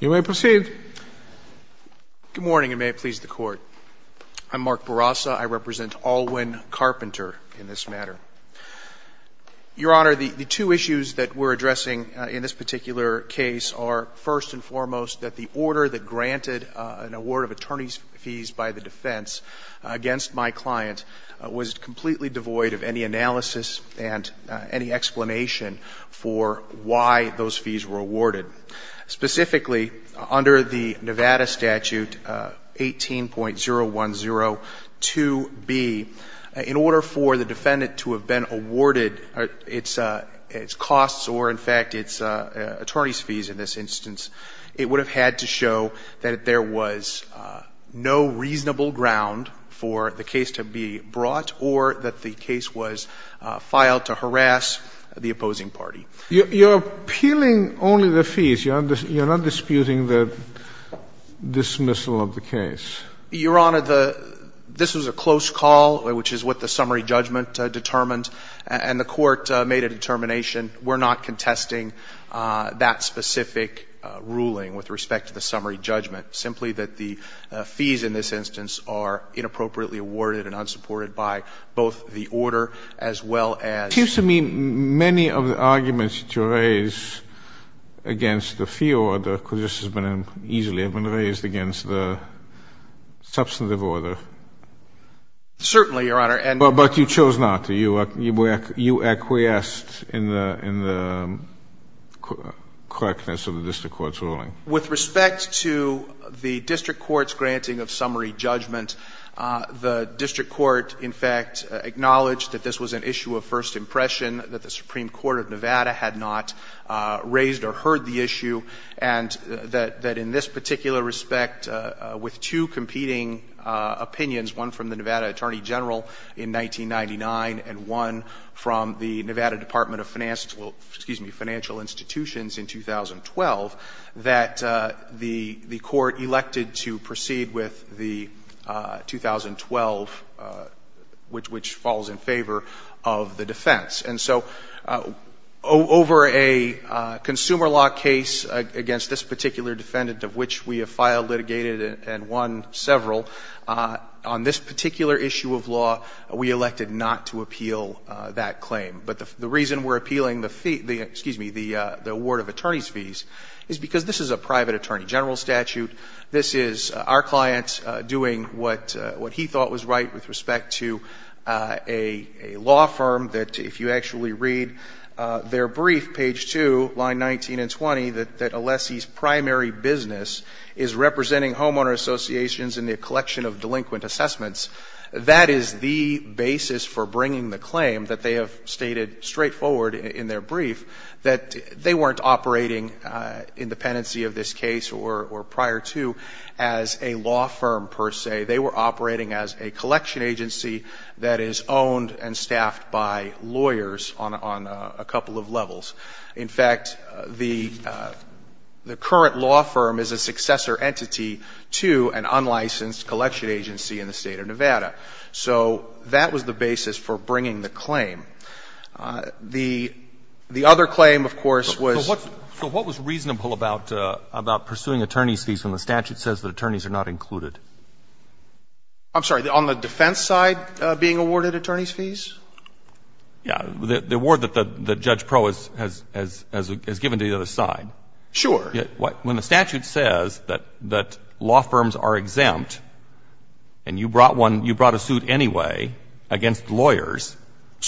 Good morning, and may it please the Court. I'm Mark Barraza. I represent Alwin Carpenter in this matter. Your Honor, the two issues that we're addressing in this particular case are, first and foremost, that the order that granted an award of attorney's fees by the for why those fees were awarded. Specifically, under the Nevada statute 18.0102B, in order for the defendant to have been awarded its costs or, in fact, its attorney's fees in this instance, it would have had to show that there was no reasonable ground for the case to be brought or that the case was filed to harass the opposing party. You're appealing only the fees. You're not disputing the dismissal of the case. Your Honor, this was a close call, which is what the summary judgment determined, and the Court made a determination we're not contesting that specific ruling with respect to the summary judgment, simply that the fees in this instance are inappropriately awarded and unsupported by both the order as well as It seems to me many of the arguments that you raise against the fee order could just as easily have been raised against the substantive order. Certainly, Your Honor. But you chose not. You acquiesced in the correctness of the district court's ruling. With respect to the district court's granting of summary judgment, the district court, in fact, acknowledged that this was an issue of first impression, that the Supreme Court of Nevada had not raised or heard the issue, and that in this particular respect, with two competing opinions, one from the Nevada Attorney General in 1999 and one from the Nevada Department of Financial Institutions in 2012, that the Court elected to proceed with the 2012, which falls in favor of the defense. And so over a consumer law case against this particular defendant, of which we have filed litigated and won several, on this particular issue of law, we elected not to appeal that claim. But the reason we're appealing the fee – excuse me, the award of attorney's fees is because this is a private attorney general statute. This is our client doing what he thought was right with respect to a law firm that if you actually read their brief, page 2, line 19 and 20, that a lessee's primary business is representing homeowner associations in the collection of delinquent assessments, that is the basis for bringing the claim that they have stated straightforward in their brief that they weren't operating in dependency of this case or prior to as a law firm per se. They were operating as a collection agency that is owned and staffed by lawyers on a couple of levels. In fact, the current law firm is a successor entity to an unlicensed collection agency in the state of Nevada. So that was the basis for bringing the claim. The other claim, of course, was – So what was reasonable about pursuing attorney's fees when the statute says that attorneys are not included? I'm sorry. On the defense side, being awarded attorney's fees? Yeah. The award that Judge Pro has given to the other side. Sure. When the statute says that law firms are exempt and you brought a suit anyway against lawyers,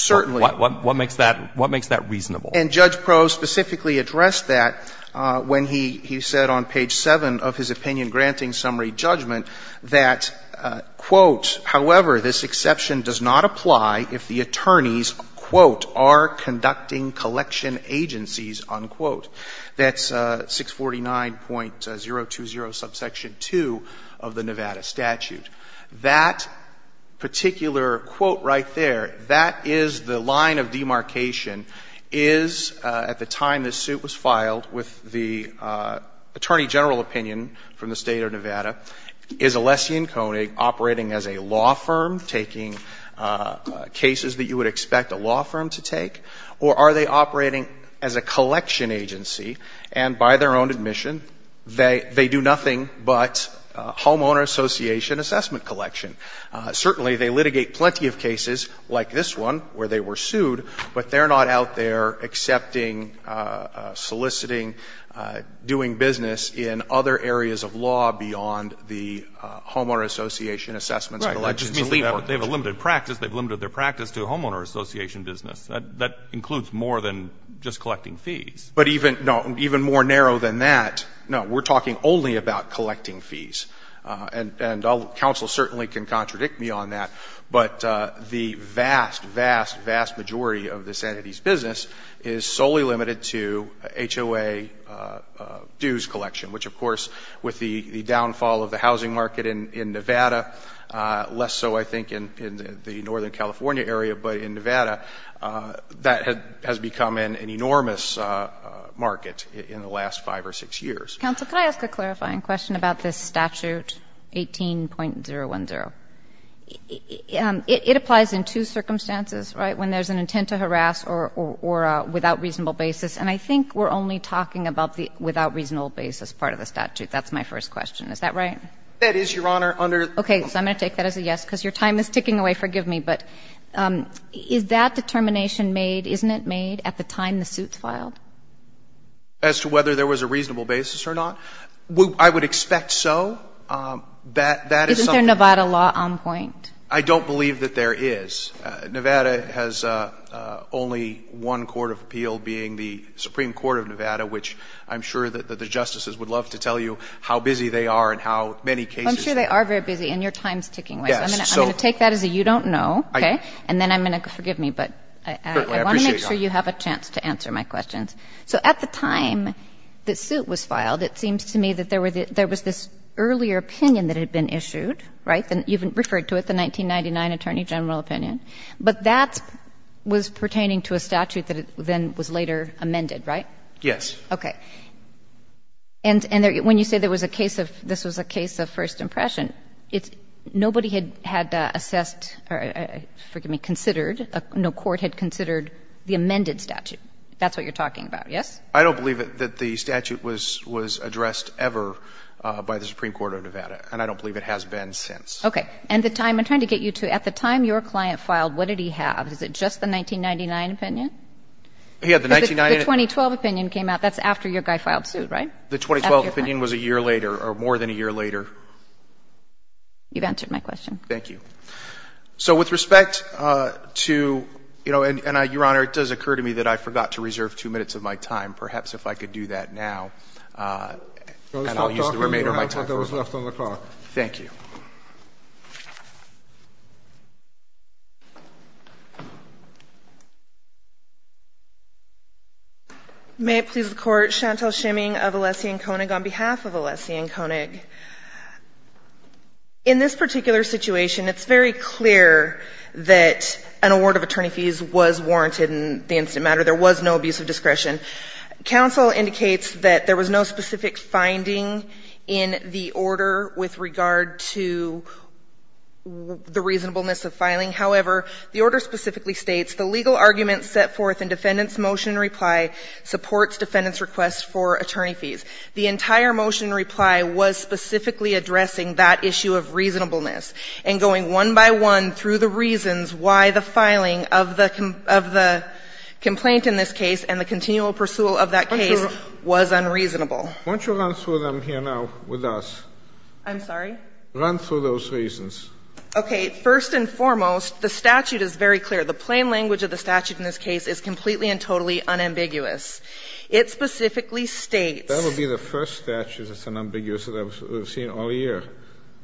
what makes that reasonable? And Judge Pro specifically addressed that when he said on page 7 of his opinion-granting summary judgment that, quote, however, this exception does not apply if the attorneys, quote, are conducting collection agencies, unquote. That's 649.020 subsection 2 of the Nevada statute. That particular quote right there, that is the line of demarcation, is at the time this suit was filed with the attorney general opinion from the state of Nevada, is Alessi and Koenig operating as a law firm, taking cases that you would expect a law firm to take? Or are they operating as a collection agency, and by their own admission, they do nothing but homeowner association assessment collection? Certainly, they litigate plenty of cases like this one where they were sued, but they're not out there accepting, soliciting, doing business in other areas of law beyond the homeowner association assessment collection. Right. That just means they have a limited practice. They've limited their practice to a homeowner association business. That includes more than just collecting fees. But even more narrow than that, no, we're talking only about collecting fees. And counsel certainly can contradict me on that, but the vast, vast, vast majority of this entity's business is solely limited to HOA dues collection, which, of course, with the downfall of the state of Nevada, less so, I think, in the northern California area, but in Nevada, that has become an enormous market in the last five or six years. Counsel, could I ask a clarifying question about this statute 18.010? It applies in two circumstances, right, when there's an intent to harass or without reasonable basis, and I think we're only talking about the without reasonable basis part of the statute. That's my first question. Is that right? That is, Your Honor, under the rules of the statute. Okay. So I'm going to take that as a yes, because your time is ticking away. Forgive me. But is that determination made, isn't it made, at the time the suit's filed? As to whether there was a reasonable basis or not? I would expect so. That is something that's made. Isn't there Nevada law on point? I don't believe that there is. Nevada has only one court of appeal being the Supreme Court of Nevada, which I'm sure that the Justices would love to tell you how busy they are and how many cases there are. Well, I'm sure they are very busy, and your time is ticking away. Yes. So I'm going to take that as a you don't know, okay? And then I'm going to go to forgive me, but I want to make sure you have a chance to answer my questions. So at the time the suit was filed, it seems to me that there were the — there was this earlier opinion that had been issued, right? And you've referred to it, the 1999 Attorney General opinion. But that was pertaining to a statute that then was later amended, right? Yes. Okay. And when you say there was a case of — this was a case of first impression, nobody had assessed or, forgive me, considered — no court had considered the amended statute. That's what you're talking about, yes? I don't believe that the statute was addressed ever by the Supreme Court of Nevada, and I don't believe it has been since. Okay. And the time — I'm trying to get you to — at the time your client filed, what did he have? Is it just the 1999 opinion? He had the 1999 — The 2012 opinion came out. That's after your guy filed suit, right? The 2012 opinion was a year later, or more than a year later. You've answered my question. Thank you. So with respect to — you know, and, Your Honor, it does occur to me that I forgot to reserve two minutes of my time. Perhaps if I could do that now, and I'll use the remainder of my time for it. I was not talking to you, Your Honor. I thought that was left on the clock. Thank you. May it please the Court. Chantelle Schimming of Alessi and Koenig on behalf of Alessi and Koenig. In this particular situation, it's very clear that an award of attorney fees was warranted in the incident matter. There was no abuse of discretion. Counsel indicates that there was no specific finding in the order with regard to the reasonableness of filing. However, the order specifically states, the legal argument set forth in defendant's motion reply supports defendant's request for attorney fees. The entire motion reply was specifically addressing that issue of reasonableness and going one by one through the reasons why the filing of the — of the complaint in this case and the continual pursual of that case was unreasonable. Won't you run through them here now with us? I'm sorry? Run through those reasons. Okay. First and foremost, the statute is very clear. The plain language of the statute in this case is completely and totally unambiguous. It specifically states — That would be the first statute that's unambiguous that I've seen all year.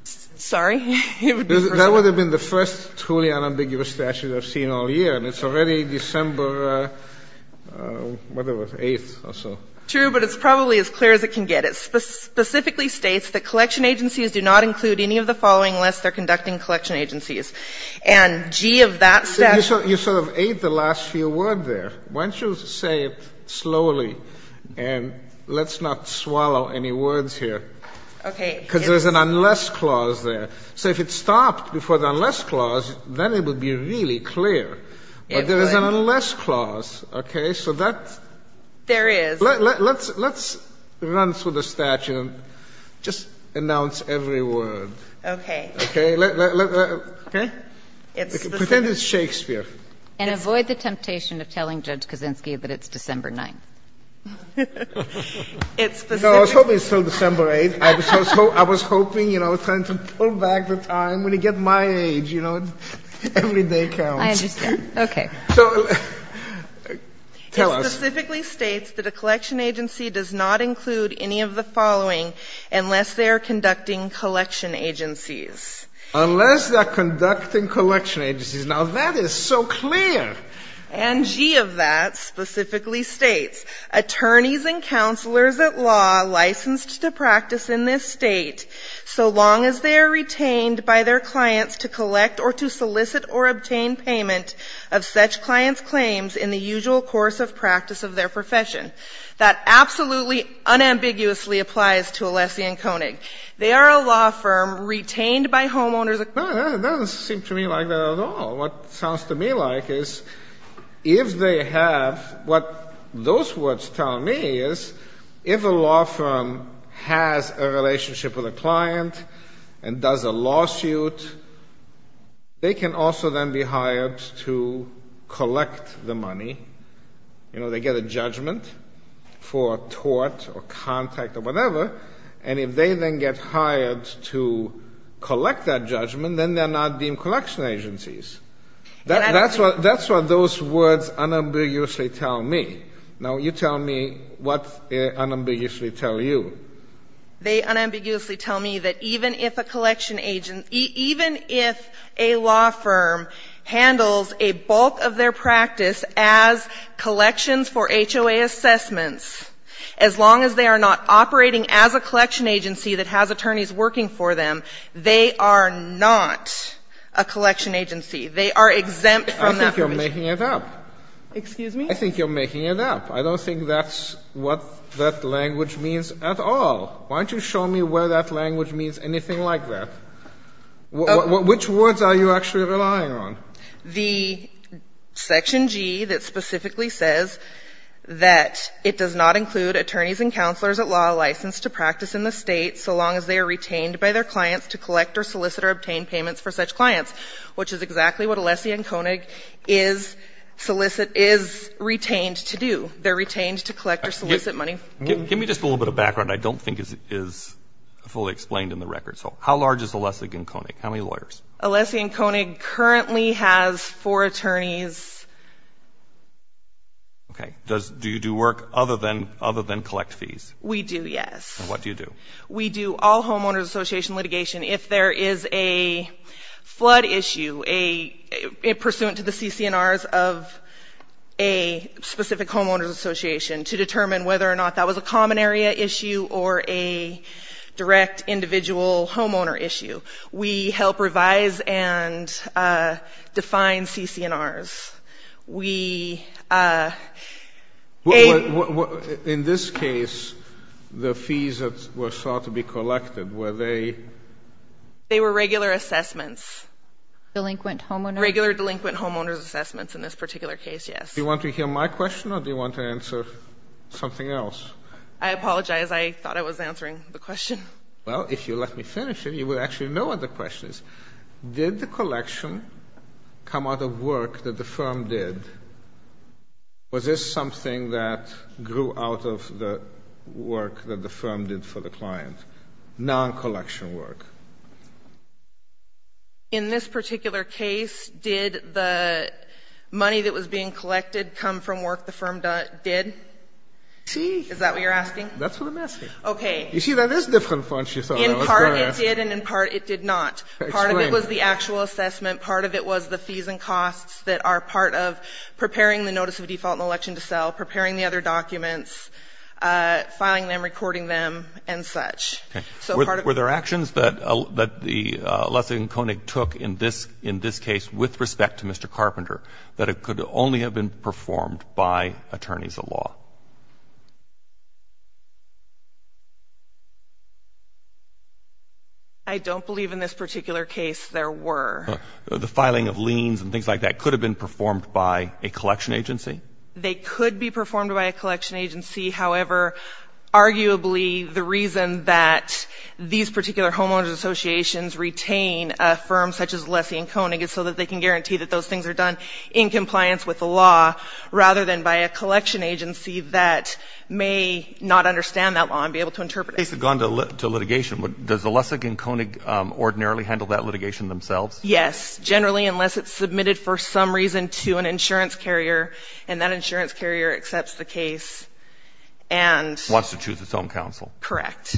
Sorry? It would be the first — That would have been the first truly unambiguous statute I've seen all year. And it's already December, whatever, 8th or so. True, but it's probably as clear as it can get. It specifically states that collection agencies do not include any of the following unless they're conducting collection agencies. And, gee, of that — You sort of ate the last few words there. Why don't you say it slowly, and let's not swallow any words here. Okay. Because there's an unless clause there. So if it stopped before the unless clause, then it would be really clear. But there is an unless clause, okay? So that's — There is. Let's run through the statute and just announce every word. Okay. Okay. Okay? Pretend it's Shakespeare. And avoid the temptation of telling Judge Kaczynski that it's December 9th. No, I was hoping it's still December 8th. I was hoping, you know, trying to pull back the time. When you get my age, you know, every day counts. I understand. Okay. So tell us. It specifically states that a collection agency does not include any of the following unless they are conducting collection agencies. Unless they are conducting collection agencies. Now, that is so clear. And, gee, of that, specifically states, attorneys and counselors at law licensed to practice in this State so long as they are retained by their clients to collect or to solicit or obtain payment of such clients' claims in the usual course of practice of their profession. That absolutely unambiguously applies to Alessi and Koenig. They are a law firm retained by homeowners. That doesn't seem to me like that at all. What sounds to me like is if they have, what those words tell me is if a law firm has a relationship with a client and does a lawsuit, they can also then be hired to collect the money. You know, they get a judgment for tort or contact or whatever. And if they then get hired to collect that judgment, then they're not deemed collection agencies. That's what those words unambiguously tell me. Now, you tell me what they unambiguously tell you. They unambiguously tell me that even if a collection agent, even if a law firm handles a bulk of their practice as collections for HOA assessments, as long as they are not operating as a collection agency that has attorneys working for them, they are not a collection agency. They are exempt from that provision. I think you're making it up. Excuse me? I think you're making it up. I don't think that's what that language means at all. Why don't you show me where that language means anything like that? Which words are you actually relying on? The section G that specifically says that it does not include attorneys and counselors at law licensed to practice in the State so long as they are retained by their clients to collect or solicit or obtain payments for such clients, which is exactly what Alessi and Koenig is solicit — is retained to do. They're retained to collect or solicit money. Give me just a little bit of background. I don't think it is fully explained in the record. So how large is Alessi and Koenig? How many lawyers? Alessi and Koenig currently has four attorneys. Okay. Do you do work other than collect fees? We do, yes. And what do you do? We do all homeowners association litigation. If there is a flood issue pursuant to the CC&Rs of a specific homeowners association to determine whether or not that was a common area issue or a direct individual homeowner issue, we help revise and define CC&Rs. We — In this case, the fees that were sought to be collected, were they — They were regular assessments. Delinquent homeowners? Regular delinquent homeowners assessments in this particular case, yes. Do you want to hear my question or do you want to answer something else? I apologize. I thought I was answering the question. Well, if you let me finish it, you would actually know what the question is. Did the collection come out of work that the firm did? Was this something that grew out of the work that the firm did for the client? Non-collection work? In this particular case, did the money that was being collected come from work the firm did? Is that what you're asking? That's what I'm asking. Okay. You see, that is different from what you thought I was going to ask. In part it did and in part it did not. Explain. Part of it was the actual assessment. Part of it was the fees and costs that are part of preparing the notice of default and election to sell, preparing the other documents, filing them, recording them, and such. Okay. So part of — Were there actions that the Lessig and Koenig took in this case with respect to Mr. Carpenter that could only have been performed by attorneys of law? I don't believe in this particular case there were. The filing of liens and things like that could have been performed by a collection agency? They could be performed by a collection agency. However, arguably the reason that these particular homeowners associations retain a firm such as Lessig and Koenig is so that they can guarantee that those things are done in compliance with the law rather than by a collection agency that may not understand that law and be able to interpret it. If this case had gone to litigation, does the Lessig and Koenig ordinarily handle that litigation themselves? Yes, generally unless it's submitted for some reason to an insurance carrier and that insurance carrier accepts the case and — Wants to choose its own counsel. Correct.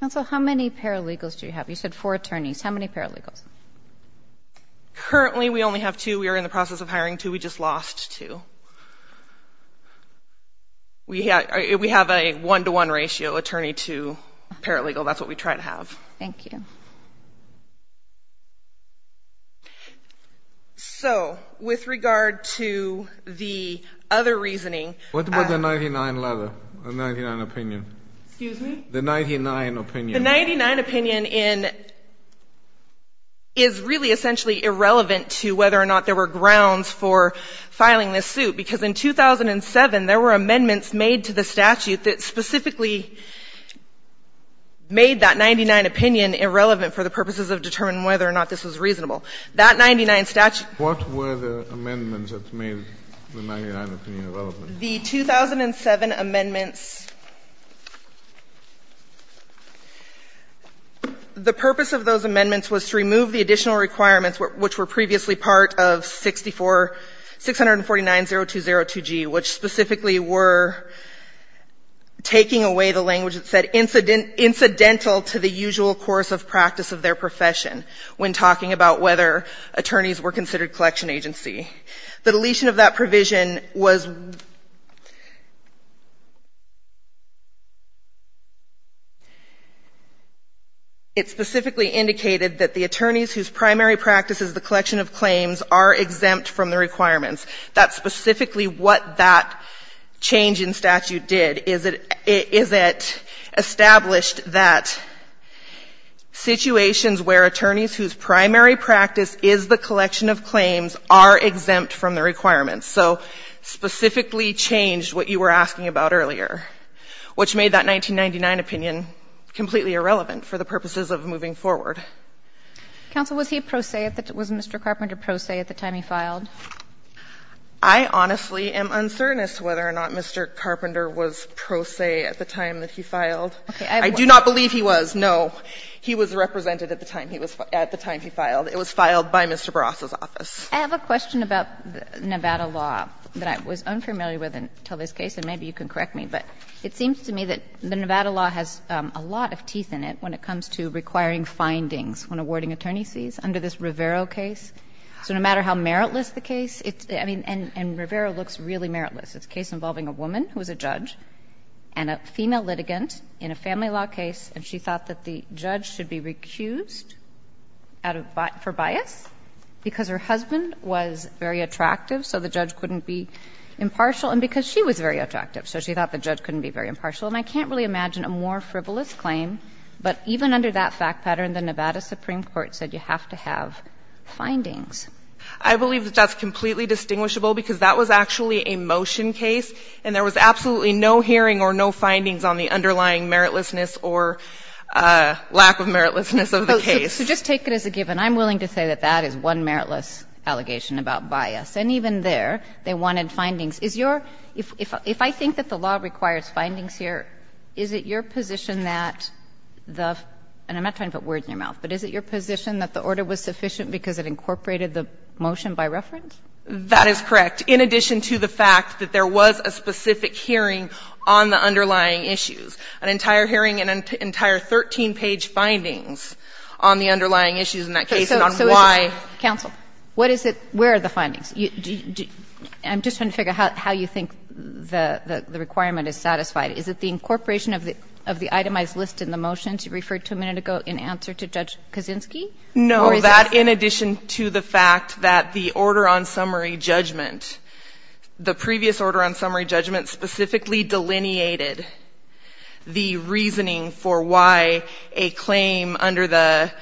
Counsel, how many paralegals do you have? You said four attorneys. How many paralegals? Currently we only have two. We are in the process of hiring two. We just lost two. We have a one-to-one ratio attorney to paralegal. That's what we try to have. Thank you. So with regard to the other reasoning — What about the 99 letter, the 99 opinion? Excuse me? The 99 opinion. The 99 opinion is really essentially irrelevant to whether or not there were grounds for filing this suit because in 2007, there were amendments made to the statute that specifically made that 99 opinion irrelevant for the purposes of determining whether or not this was reasonable. That 99 statute — What were the amendments that made the 99 opinion irrelevant? The 2007 amendments — The purpose of those amendments was to remove the additional requirements, which were previously part of 649.0202G, which specifically were taking away the language that said incidental to the usual course of practice of their profession when talking about whether attorneys were considered collection agency. The deletion of that provision was — It indicated that the attorneys whose primary practice is the collection of claims are exempt from the requirements. That's specifically what that change in statute did, is it established that situations where attorneys whose primary practice is the collection of claims are exempt from the requirements. So specifically changed what you were asking about earlier, which made that 1999 opinion completely irrelevant for the purposes of moving forward. Counsel, was he pro se at the — was Mr. Carpenter pro se at the time he filed? I honestly am uncertain as to whether or not Mr. Carpenter was pro se at the time that he filed. Okay. I do not believe he was. No. He was represented at the time he was — at the time he filed. It was filed by Mr. Barraza's office. I have a question about Nevada law that I was unfamiliar with until this case, and maybe you can correct me. But it seems to me that the Nevada law has a lot of teeth in it when it comes to requiring findings when awarding attorneys' fees under this Rivera case. So no matter how meritless the case, it's — I mean, and Rivera looks really meritless. It's a case involving a woman who was a judge and a female litigant in a family law case, and she thought that the judge should be recused out of — for bias because her husband was very attractive, so the judge couldn't be impartial. And because she was very attractive, so she thought the judge couldn't be very impartial. And I can't really imagine a more frivolous claim. But even under that fact pattern, the Nevada Supreme Court said you have to have findings. I believe that that's completely distinguishable because that was actually a motion case, and there was absolutely no hearing or no findings on the underlying meritlessness or lack of meritlessness of the case. So just take it as a given. I'm willing to say that that is one meritless allegation about bias. And even there, they wanted findings. Is your — if I think that the law requires findings here, is it your position that the — and I'm not trying to put words in your mouth, but is it your position that the order was sufficient because it incorporated the motion by reference? That is correct, in addition to the fact that there was a specific hearing on the underlying issues, an entire hearing and an entire 13-page findings on the underlying issues in that case and on why — So, counsel, what is it — where are the findings? I'm just trying to figure out how you think the requirement is satisfied. Is it the incorporation of the itemized list in the motions you referred to a minute ago in answer to Judge Kaczynski? No, that in addition to the fact that the order on summary judgment, the previous order on summary judgment specifically delineated the reasoning for why a claim under the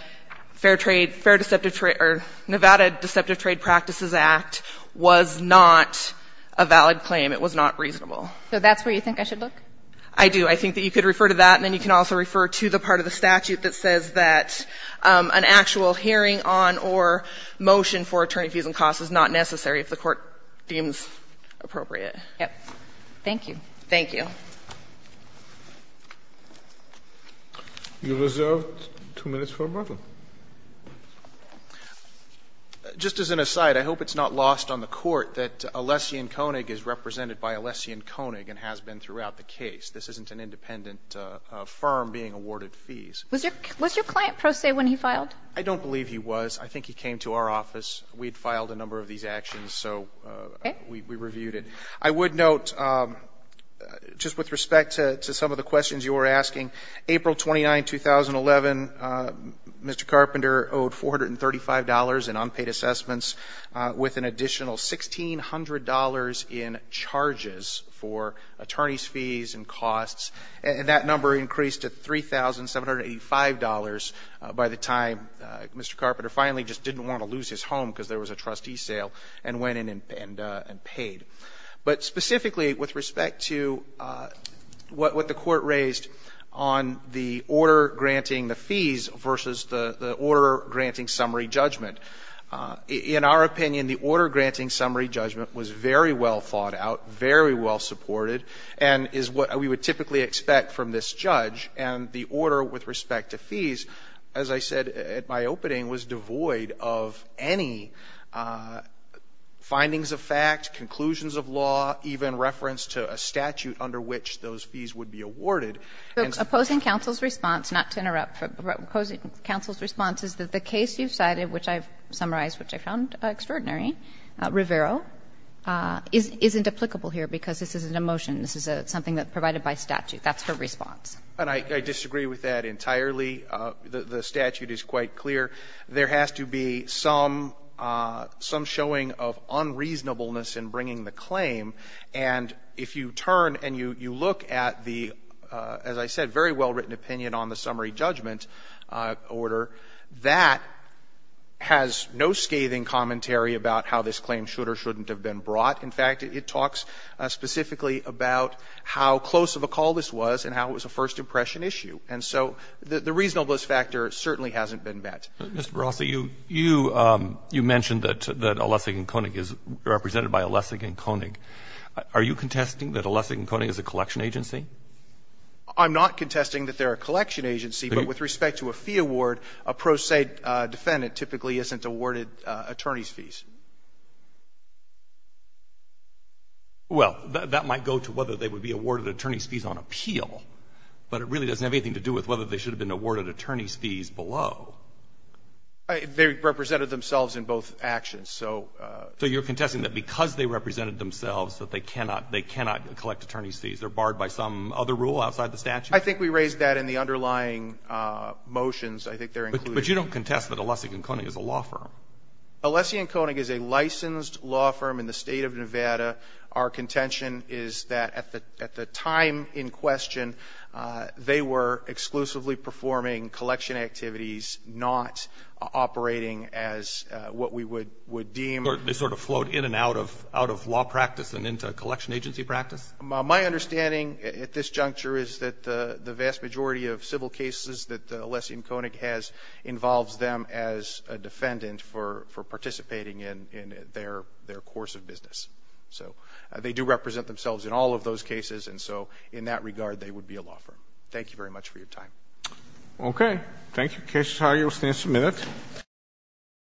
Fair Trade — Fair Deceptive — or Nevada Deceptive Trade Practices Act was not a valid claim. It was not reasonable. So that's where you think I should look? I do. I think that you could refer to that, and then you can also refer to the part of the statute that says that an actual hearing on or motion for attorney fees and costs is not necessary if the court deems appropriate. Yes. Thank you. Thank you. You're reserved two minutes for rebuttal. Just as an aside, I hope it's not lost on the Court that Alessian Koenig is represented by Alessian Koenig and has been throughout the case. This isn't an independent firm being awarded fees. Was your client pro se when he filed? I don't believe he was. I think he came to our office. We had filed a number of these actions, so we reviewed it. Okay. I would note, just with respect to some of the questions you were asking, April 29, 2011, Mr. Carpenter owed $435 in unpaid assessments with an additional $1,600 in charges for attorney's fees and costs. And that number increased to $3,785 by the time Mr. Carpenter finally just didn't want to lose his home because there was a trustee sale and went and paid. But specifically with respect to what the Court raised on the order granting the fees versus the order granting summary judgment, in our opinion, the order granting summary judgment was very well thought out, very well supported, and is what we would typically expect from this judge. And the order with respect to fees, as I said at my opening, was devoid of any findings of fact, conclusions of law, even reference to a statute under which those fees would be awarded. So opposing counsel's response, not to interrupt, but opposing counsel's response is that the case you've cited, which I've summarized, which I found extraordinary, Rivero, is indeplicable here because this isn't a motion. This is something that's provided by statute. That's her response. And I disagree with that entirely. The statute is quite clear. There has to be some showing of unreasonableness in bringing the claim. And if you turn and you look at the, as I said, very well written opinion on the summary judgment order, that has no scathing commentary about how this claim should or shouldn't have been brought. In fact, it talks specifically about how close of a call this was and how it was a first impression issue. And so the reasonableness factor certainly hasn't been met. Mr. Barossi, you mentioned that Olesik and Koenig is represented by Olesik and Koenig. Are you contesting that Olesik and Koenig is a collection agency? I'm not contesting that they're a collection agency, but with respect to a fee award, a pro se defendant typically isn't awarded attorney's fees. Well, that might go to whether they would be awarded attorney's fees on appeal. But it really doesn't have anything to do with whether they should have been awarded attorney's fees below. They represented themselves in both actions. So you're contesting that because they represented themselves that they cannot collect attorney's fees? They're barred by some other rule outside the statute? I think we raised that in the underlying motions. I think they're included. But you don't contest that Olesik and Koenig is a law firm? Olesik and Koenig is a licensed law firm in the State of Nevada. Our contention is that at the time in question, they were exclusively performing collection activities, not operating as what we would deem. They sort of float in and out of law practice and into collection agency practice? My understanding at this juncture is that the vast majority of civil cases that Olesik and Koenig has involves them as a defendant for participating in their course of business. So they do represent themselves in all of those cases. And so in that regard, they would be a law firm. Thank you very much for your time. Okay. Thank you. Case is hired. You'll stand for a minute.